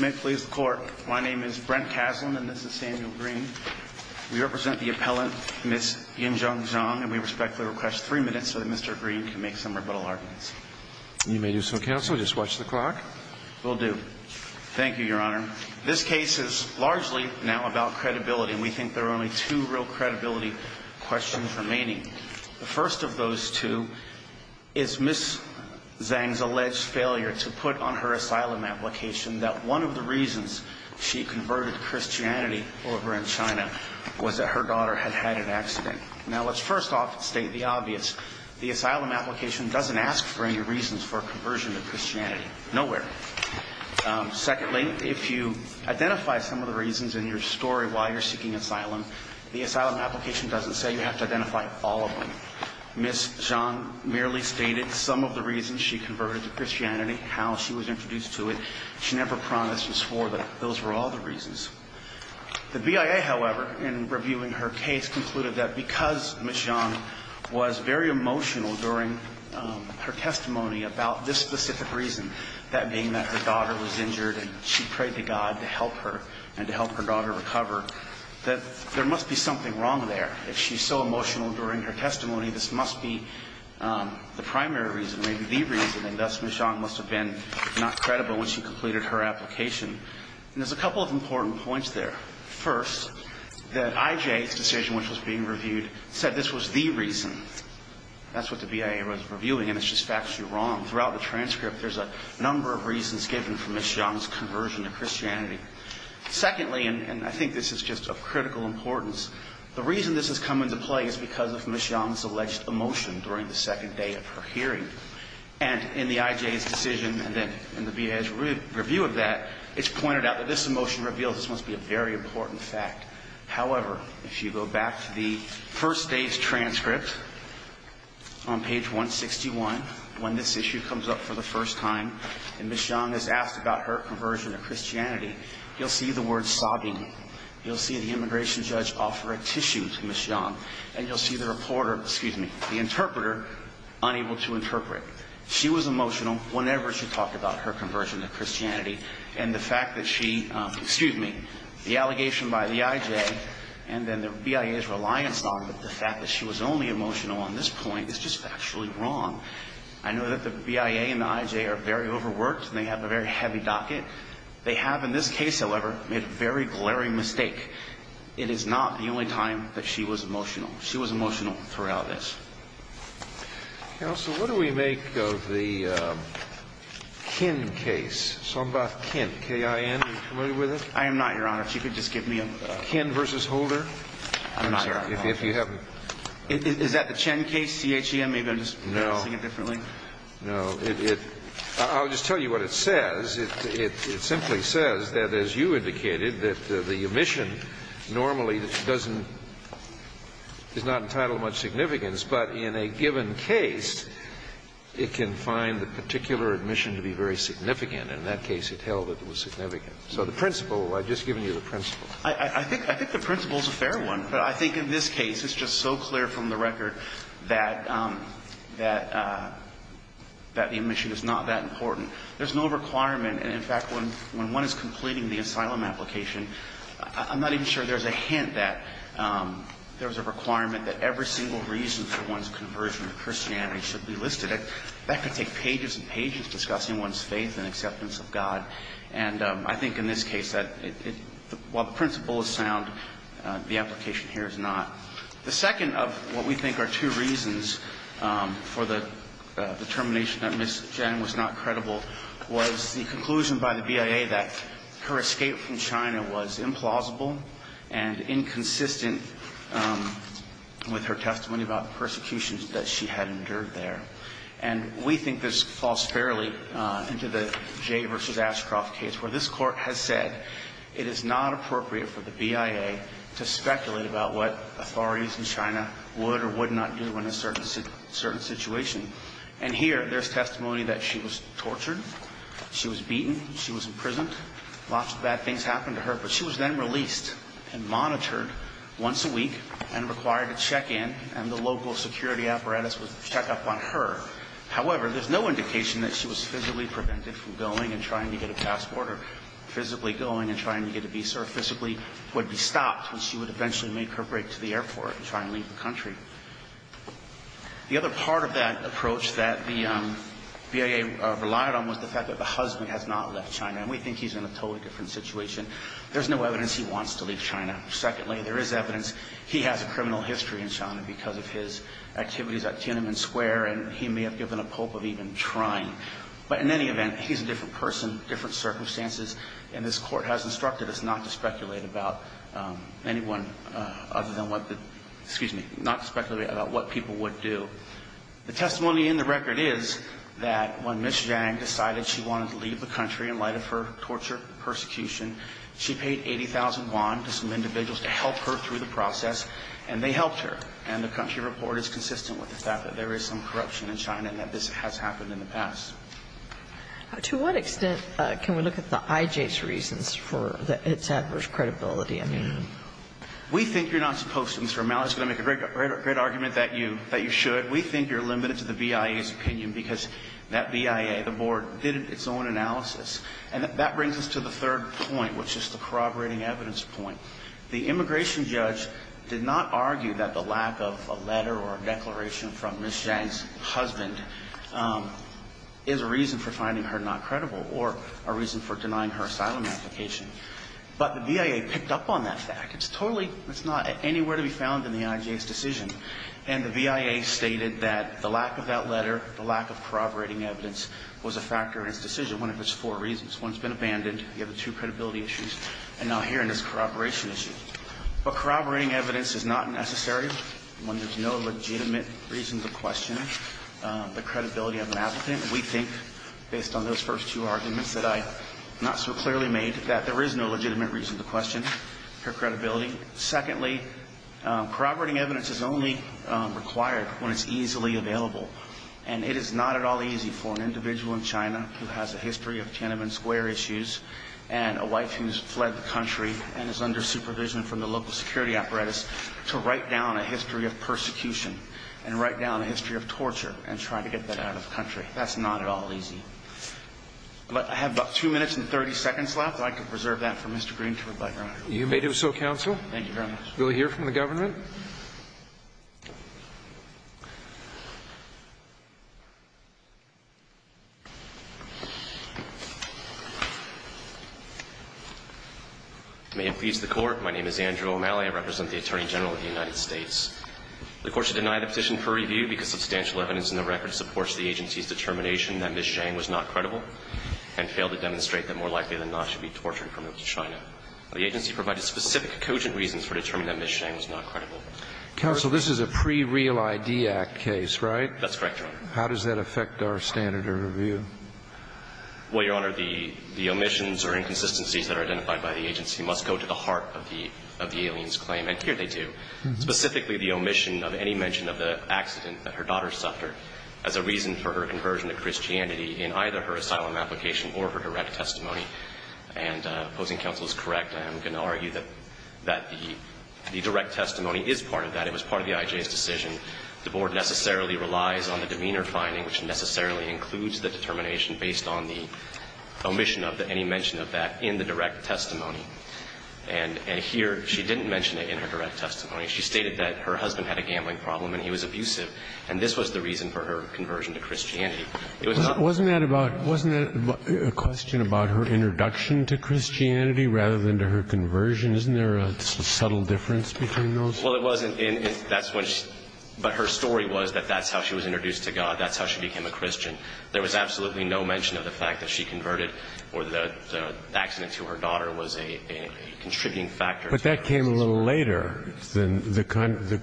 May it please the Court, my name is Brent Kaslan and this is Samuel Green. We represent the appellant, Ms. Yingchun Zhang, and we respectfully request three minutes so that Mr. Green can make some rebuttal arguments. You may do so, Counsel. Just watch the clock. Will do. Thank you, Your Honor. This case is largely now about credibility, and we think there are only two real credibility questions remaining. The first of those two is Ms. Zhang's alleged failure to put on her asylum application that one of the reasons she converted to Christianity over in China was that her daughter had had an accident. Now, let's first off state the obvious. The asylum application doesn't ask for any reasons for a conversion to Christianity. Nowhere. Secondly, if you identify some of the reasons in your story why you're seeking asylum, the asylum application doesn't say you have to identify all of them. Ms. Zhang merely stated some of the reasons she converted to Christianity, how she was introduced to it. She never promised or swore that those were all the reasons. The BIA, however, in reviewing her case, concluded that because Ms. Zhang was very emotional during her testimony about this specific reason, that being that her daughter was injured and she prayed to God to help her and to help her daughter recover, that there must be something wrong there. If she's so emotional during her testimony, this must be the primary reason, maybe the reason, and thus Ms. Zhang must have been not credible when she completed her application. And there's a couple of important points there. First, that IJ's decision which was being reviewed said this was the reason. That's what the BIA was reviewing, and it's just factually wrong. Throughout the transcript, there's a number of reasons given for Ms. Zhang's conversion to Christianity. Secondly, and I think this is just of critical importance, the reason this has come into play is because of Ms. Zhang's alleged emotion during the second day of her hearing. And in the IJ's decision and then in the BIA's review of that, it's pointed out that this emotion reveals this must be a very important fact. However, if you go back to the first day's transcript on page 161, when this issue comes up for the first time, and Ms. Zhang is asked about her conversion to Christianity, you'll see the word sobbing. You'll see the immigration judge offer a tissue to Ms. Zhang, and you'll see the reporter, excuse me, the interpreter, unable to interpret. She was emotional whenever she talked about her conversion to Christianity, and the fact that she, excuse me, the allegation by the IJ and then the BIA's reliance on the fact that she was only emotional on this point is just factually wrong. I know that the BIA and the IJ are very overworked, and they have a very heavy docket. They have in this case, however, made a very glaring mistake. It is not the only time that she was emotional. She was emotional throughout this. Counsel, what do we make of the Qin case? So I'm about Qin, K-I-N. Are you familiar with it? I am not, Your Honor. If you could just give me a Qin versus Holder. I'm sorry. Is that the Chen case, C-H-E-N? Maybe I'm just noticing it differently. No. No. I'll just tell you what it says. It simply says that, as you indicated, that the admission normally doesn't – is not entitled to much significance. But in a given case, it can find the particular admission to be very significant. In that case, it held that it was significant. So the principle, I've just given you the principle. I think the principle is a fair one. But I think in this case, it's just so clear from the record that the admission is not that important. There's no requirement. And, in fact, when one is completing the asylum application, I'm not even sure there's a hint that there's a requirement that every single reason for one's conversion to Christianity should be listed. That could take pages and pages discussing one's faith and acceptance of God. And I think in this case that while the principle is sound, the application here is not. The second of what we think are two reasons for the determination that Ms. Chen was not credible was the conclusion by the BIA that her escape from China was implausible and inconsistent with her testimony about the persecutions that she had endured there. And we think this falls fairly into the Jay v. Ashcroft case where this court has said it is not appropriate for the BIA to speculate about what authorities in China would or would not do in a certain situation. And here, there's testimony that she was tortured, she was beaten, she was imprisoned. Lots of bad things happened to her. But she was then released and monitored once a week and required to check in. And the local security apparatus would check up on her. However, there's no indication that she was physically prevented from going and trying to get a passport or physically going and trying to get a visa or physically would be stopped when she would eventually make her break to the airport and try and leave the country. The other part of that approach that the BIA relied on was the fact that the husband has not left China. And we think he's in a totally different situation. There's no evidence he wants to leave China. Secondly, there is evidence he has a criminal history in China because of his activities at Tiananmen Square. And he may have given a pulp of even trying. But in any event, he's a different person, different circumstances. And this court has instructed us not to speculate about anyone other than what the, excuse me, not to speculate about what people would do. The testimony in the record is that when Ms. Zhang decided she wanted to leave the country in light of her torture, persecution, she paid 80,000 yuan to some individuals to help her through the process. And they helped her. And the country report is consistent with the fact that there is some corruption in China and that this has happened in the past. To what extent can we look at the IJ's reasons for its adverse credibility? I mean, we think you're not supposed to. Mr. O'Malley is going to make a great argument that you should. But we think you're limited to the BIA's opinion because that BIA, the board, did its own analysis. And that brings us to the third point, which is the corroborating evidence point. The immigration judge did not argue that the lack of a letter or a declaration from Ms. Zhang's husband is a reason for finding her not credible or a reason for denying her asylum application. But the BIA picked up on that fact. It's totally, it's not anywhere to be found in the IJ's decision. And the BIA stated that the lack of that letter, the lack of corroborating evidence, was a factor in its decision. One of its four reasons. One's been abandoned. You have the two credibility issues. And now here in this corroboration issue. But corroborating evidence is not necessary when there's no legitimate reason to question the credibility of an applicant. We think, based on those first two arguments that I not so clearly made, that there is no legitimate reason to question her credibility. Secondly, corroborating evidence is only required when it's easily available. And it is not at all easy for an individual in China who has a history of Tiananmen Square issues and a wife who has fled the country and is under supervision from the local security apparatus to write down a history of persecution and write down a history of torture and try to get that out of the country. That's not at all easy. But I have about two minutes and 30 seconds left. I can preserve that for Mr. Green to rebut. You may do so, counsel. Thank you very much. We'll hear from the government. May it please the Court. My name is Andrew O'Malley. I represent the Attorney General of the United States. The Court should deny the petition for review because substantial evidence in the record supports the agency's determination that Ms. Zhang was not credible and failed to demonstrate that more likely than not she should be tortured and removed to China. The agency provided specific cogent reasons for determining that Ms. Zhang was not credible. Counsel, this is a pre-Real ID Act case, right? That's correct, Your Honor. How does that affect our standard of review? Well, Your Honor, the omissions or inconsistencies that are identified by the agency must go to the heart of the alien's claim, and here they do, specifically the omission of any mention of the accident that her daughter suffered as a reason for her conversion to Christianity in either her asylum application or her direct testimony. And opposing counsel is correct. I am going to argue that the direct testimony is part of that. It was part of the IJ's decision. The Board necessarily relies on the demeanor finding, which necessarily includes the determination based on the omission of any mention of that in the direct testimony. And here she didn't mention it in her direct testimony. She stated that her husband had a gambling problem and he was abusive, and this was the reason for her conversion to Christianity. Wasn't that a question about her introduction to Christianity rather than to her conversion? Isn't there a subtle difference between those? Well, it wasn't. But her story was that that's how she was introduced to God. That's how she became a Christian. There was absolutely no mention of the fact that she converted or the accident to her daughter was a contributing factor. But that came a little later. The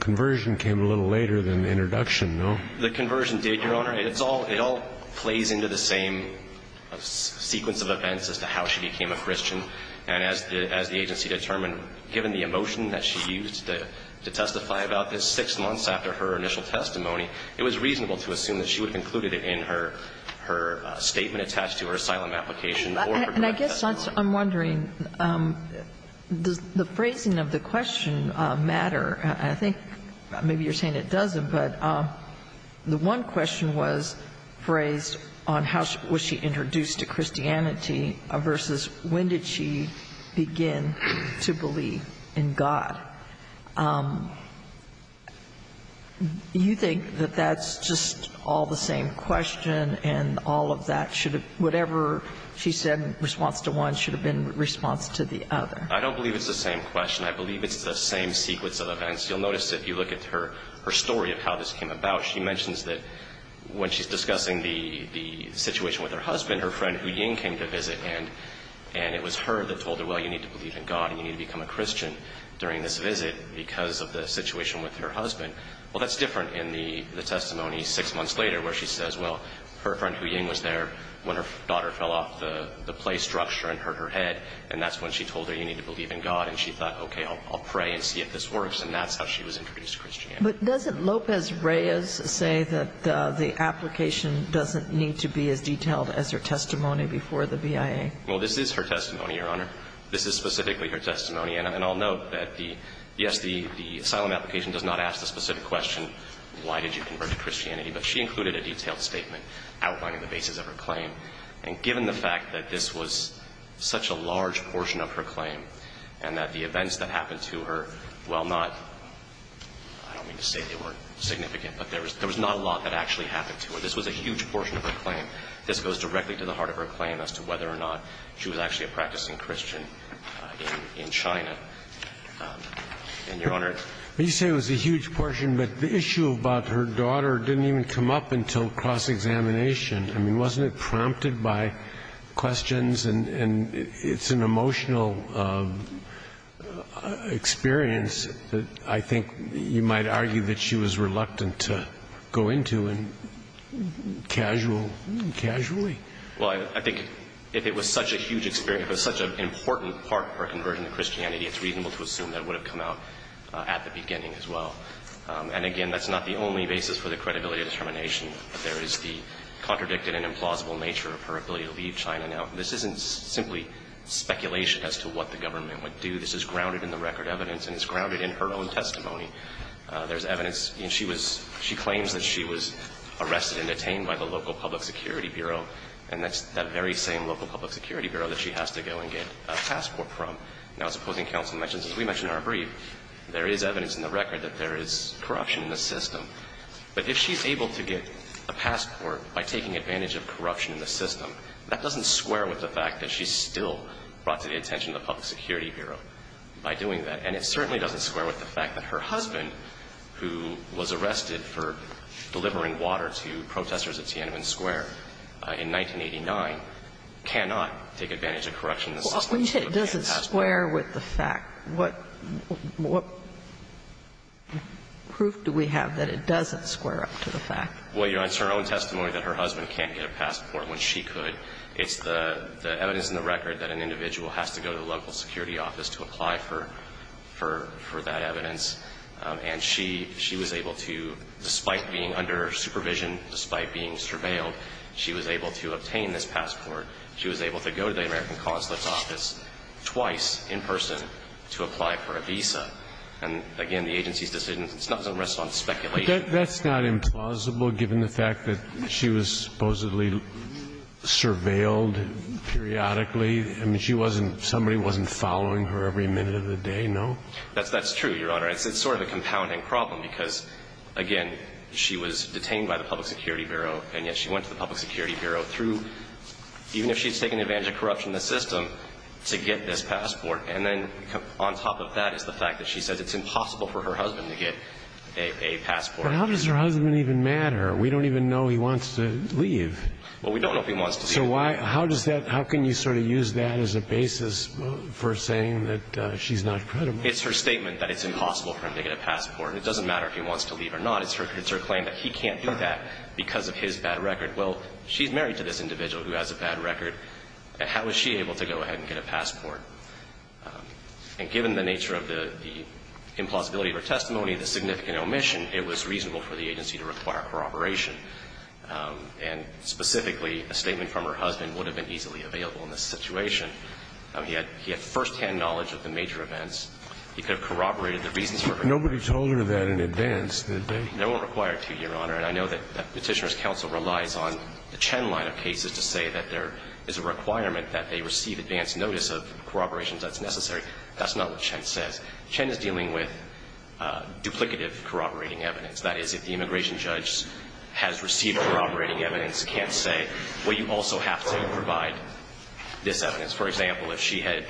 conversion came a little later than the introduction, no? The conversion did, Your Honor. It all plays into the same sequence of events as to how she became a Christian. And as the agency determined, given the emotion that she used to testify about this six months after her initial testimony, it was reasonable to assume that she would have included it in her statement attached to her asylum application or her direct testimony. And I guess I'm wondering, does the phrasing of the question matter? I think maybe you're saying it doesn't. But the one question was phrased on how was she introduced to Christianity versus when did she begin to believe in God. Do you think that that's just all the same question and all of that should have been whatever she said in response to one should have been response to the other? I don't believe it's the same question. I believe it's the same sequence of events. You'll notice if you look at her story of how this came about, she mentions that when she's discussing the situation with her husband, her friend Hu Ying came to visit and it was her that told her, well, you need to believe in God and you need to become a Christian during this visit because of the situation with her husband. Well, that's different in the testimony six months later where she says, well, her daughter fell off the play structure and hurt her head. And that's when she told her, you need to believe in God. And she thought, okay, I'll pray and see if this works. And that's how she was introduced to Christianity. But doesn't Lopez-Reyes say that the application doesn't need to be as detailed as her testimony before the BIA? Well, this is her testimony, Your Honor. This is specifically her testimony. And I'll note that, yes, the asylum application does not ask the specific question why did you convert to Christianity. But she included a detailed statement outlining the basis of her claim. And given the fact that this was such a large portion of her claim and that the events that happened to her, while not – I don't mean to say they weren't significant, but there was not a lot that actually happened to her. This was a huge portion of her claim. This goes directly to the heart of her claim as to whether or not she was actually a practicing Christian in China. And, Your Honor – But you say it was a huge portion, but the issue about her daughter didn't even come up until cross-examination. I mean, wasn't it prompted by questions? And it's an emotional experience that I think you might argue that she was reluctant to go into and casual – casually. Well, I think if it was such a huge experience, it was such an important part of her conversion to Christianity, it's reasonable to assume that it would have come out at the beginning as well. And, again, that's not the only basis for the credibility of determination. There is the contradicted and implausible nature of her ability to leave China. Now, this isn't simply speculation as to what the government would do. This is grounded in the record evidence and it's grounded in her own testimony. There's evidence – she claims that she was arrested and detained by the local public security bureau, and that's that very same local public security bureau that she has to go and get a passport from. Now, supposing counsel mentions, as we mentioned in our brief, there is evidence in the record that there is corruption in the system. But if she's able to get a passport by taking advantage of corruption in the system, that doesn't square with the fact that she's still brought to the attention of the public security bureau by doing that. And it certainly doesn't square with the fact that her husband, who was arrested for delivering water to protesters at Tiananmen Square in 1989, cannot take advantage of corruption in the system. Sotomayor, you said it doesn't square with the fact. What proof do we have that it doesn't square up to the fact? Well, Your Honor, it's her own testimony that her husband can't get a passport when she could. It's the evidence in the record that an individual has to go to the local security office to apply for that evidence. And she was able to, despite being under supervision, despite being surveilled, she was able to obtain this passport. She was able to go to the American Consulate's office twice in person to apply for a visa. And, again, the agency's decision doesn't rest on speculation. But that's not implausible, given the fact that she was supposedly surveilled periodically? I mean, she wasn't – somebody wasn't following her every minute of the day, no? That's true, Your Honor. It's sort of a compounding problem, because, again, she was detained by the Public Security Bureau, and yet she went to the Public Security Bureau through – even if she's taken advantage of corruption in the system to get this passport. And then on top of that is the fact that she says it's impossible for her husband to get a passport. But how does her husband even matter? We don't even know he wants to leave. Well, we don't know if he wants to leave. So why – how does that – how can you sort of use that as a basis for saying that she's not credible? It's her statement that it's impossible for him to get a passport. It doesn't matter if he wants to leave or not. It's her claim that he can't do that because of his bad record. Well, she's married to this individual who has a bad record. How is she able to go ahead and get a passport? And given the nature of the implausibility of her testimony, the significant omission, it was reasonable for the agency to require corroboration. And, specifically, a statement from her husband would have been easily available in this situation. He had first-hand knowledge of the major events. He could have corroborated the reasons for her case. Nobody told her that in advance, did they? No one required to, Your Honor. And I know that Petitioner's counsel relies on the Chen line of cases to say that there is a requirement that they receive advance notice of corroborations that's necessary. That's not what Chen says. Chen is dealing with duplicative corroborating evidence. That is, if the immigration judge has received corroborating evidence, can't say, well, you also have to provide this evidence. For example, if she had,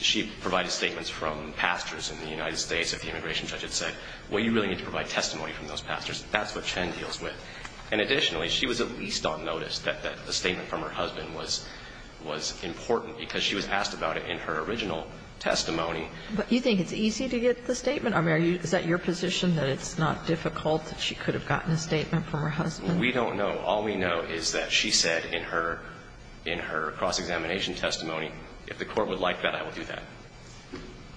she provided statements from pastors in the United States if the immigration judge had said, well, you really need to provide testimony from those pastors. That's what Chen deals with. And, additionally, she was at least on notice that a statement from her husband was important because she was asked about it in her original testimony. But you think it's easy to get the statement? I mean, is that your position, that it's not difficult, that she could have gotten a statement from her husband? We don't know. All we know is that she said in her cross-examination testimony, if the Court would like that, I will do that.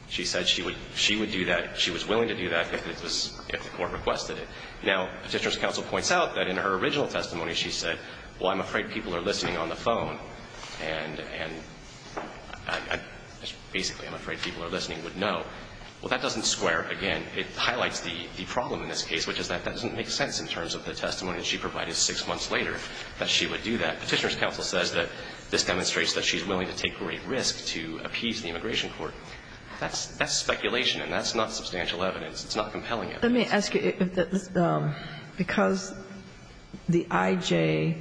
She said she would do that. She was willing to do that if it was, if the Court requested it. Now, Petitioner's counsel points out that in her original testimony, she said, well, I'm afraid people are listening on the phone. And basically, I'm afraid people are listening would know. Well, that doesn't square. Again, it highlights the problem in this case, which is that that doesn't make sense in terms of the testimony that she provided six months later, that she would do that. Petitioner's counsel says that this demonstrates that she's willing to take great risk to appease the immigration court. That's speculation, and that's not substantial evidence. It's not compelling evidence. Let me ask you, because the I.J.,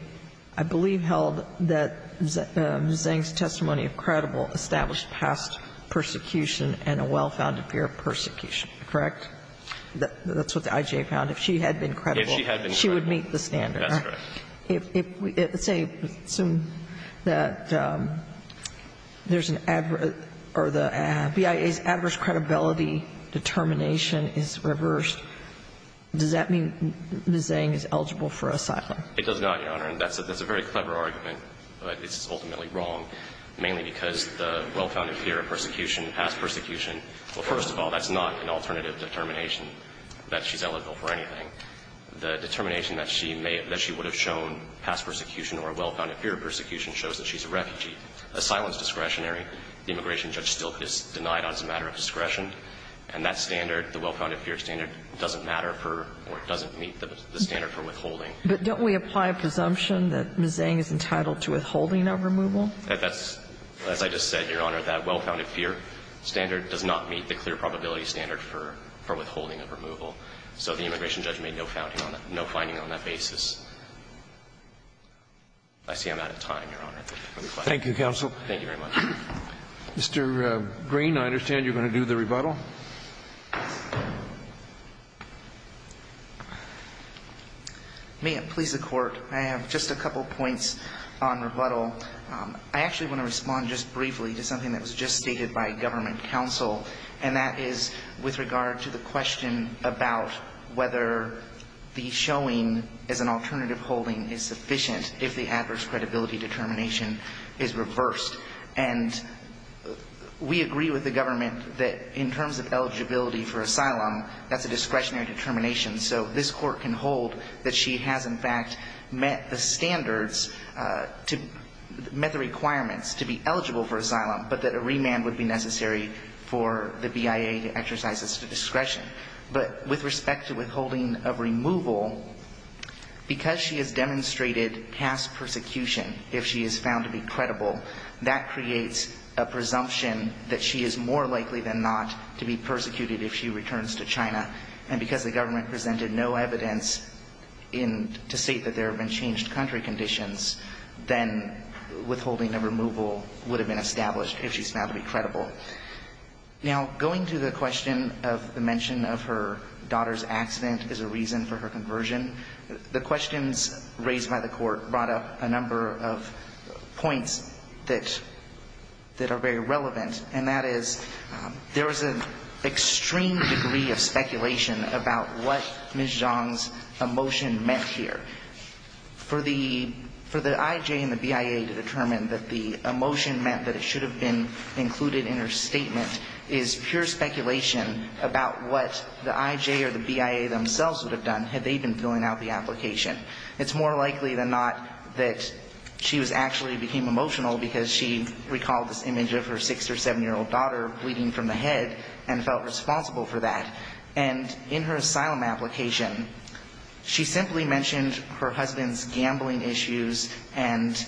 I believe, held that Zhang's testimony of credible established past persecution and a well-founded fear of persecution, correct? That's what the I.J. found. If she had been credible, she would meet the standard. That's correct. If, let's say, assume that there's an adverse or the BIA's adverse credibility determination is reversed, does that mean that Zhang is eligible for asylum? It does not, Your Honor. And that's a very clever argument, but it's ultimately wrong, mainly because the well-founded fear of persecution, past persecution, well, first of all, that's not an alternative determination that she's eligible for anything. The determination that she may have, that she would have shown past persecution or a well-founded fear of persecution shows that she's a refugee. Asylum is discretionary. The immigration judge still is denied on this matter of discretion. And that standard, the well-founded fear standard, doesn't matter for or doesn't meet the standard for withholding. But don't we apply a presumption that Ms. Zhang is entitled to withholding of removal? That's, as I just said, Your Honor, that well-founded fear standard does not meet the clear probability standard for withholding of removal. So the immigration judge made no finding on that basis. I see I'm out of time, Your Honor. Thank you, counsel. Thank you very much. Mr. Green, I understand you're going to do the rebuttal. May it please the Court. I have just a couple points on rebuttal. I actually want to respond just briefly to something that was just stated by government counsel, and that is with regard to the question about whether the showing as an alternative holding is sufficient if the adverse credibility determination is reversed. And we agree with the government that in terms of eligibility for asylum, that's a discretionary determination. So this Court can hold that she has, in fact, met the standards to met the requirements to be eligible for asylum, but that a remand would be necessary for the BIA to exercise this discretion. But with respect to withholding of removal, because she has demonstrated past persecution, if she is found to be credible, that creates a presumption that she is more likely than not to be persecuted if she returns to China. And because the government presented no evidence to state that there have been changed country conditions, then withholding of removal would have been established if she's found to be credible. Now, going to the question of the mention of her daughter's accident as a reason for her conversion, the questions raised by the Court brought up a number of points that are very relevant, and that is there was an extreme degree of speculation about what Ms. Zhang's emotion meant here. For the IJ and the BIA to determine that the emotion meant that it should have been included in her statement is pure speculation about what the IJ or the BIA themselves would have done had they been filling out the application. It's more likely than not that she actually became emotional because she recalled this image of her 6- or 7-year-old daughter bleeding from the head and felt responsible for that. And in her asylum application, she simply mentioned her husband's gambling issues and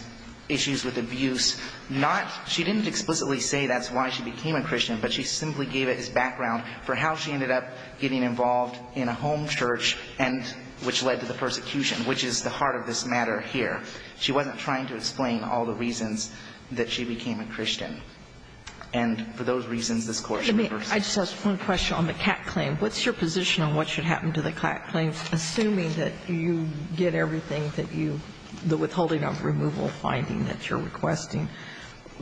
issues with abuse. Not — she didn't explicitly say that's why she became a Christian, but she simply gave it as background for how she ended up getting involved in a home church and — which led to the persecution, which is the heart of this matter here. She wasn't trying to explain all the reasons that she became a Christian. And for those reasons, this Court reversed. I just have one question on the CAC claim. What's your position on what should happen to the CAC claim, assuming that you get everything that you — the withholding of removal finding that you're requesting?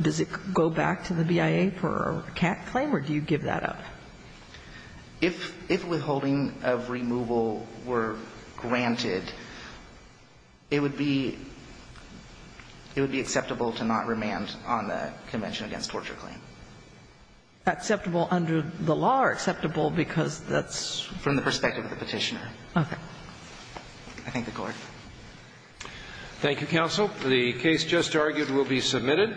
Does it go back to the BIA for a CAC claim, or do you give that up? If — if withholding of removal were granted, it would be — it would be acceptable to not remand on the Convention Against Torture claim. Acceptable under the law or acceptable because that's — From the perspective of the Petitioner. Okay. I thank the Court. Thank you, counsel. The case just argued will be submitted.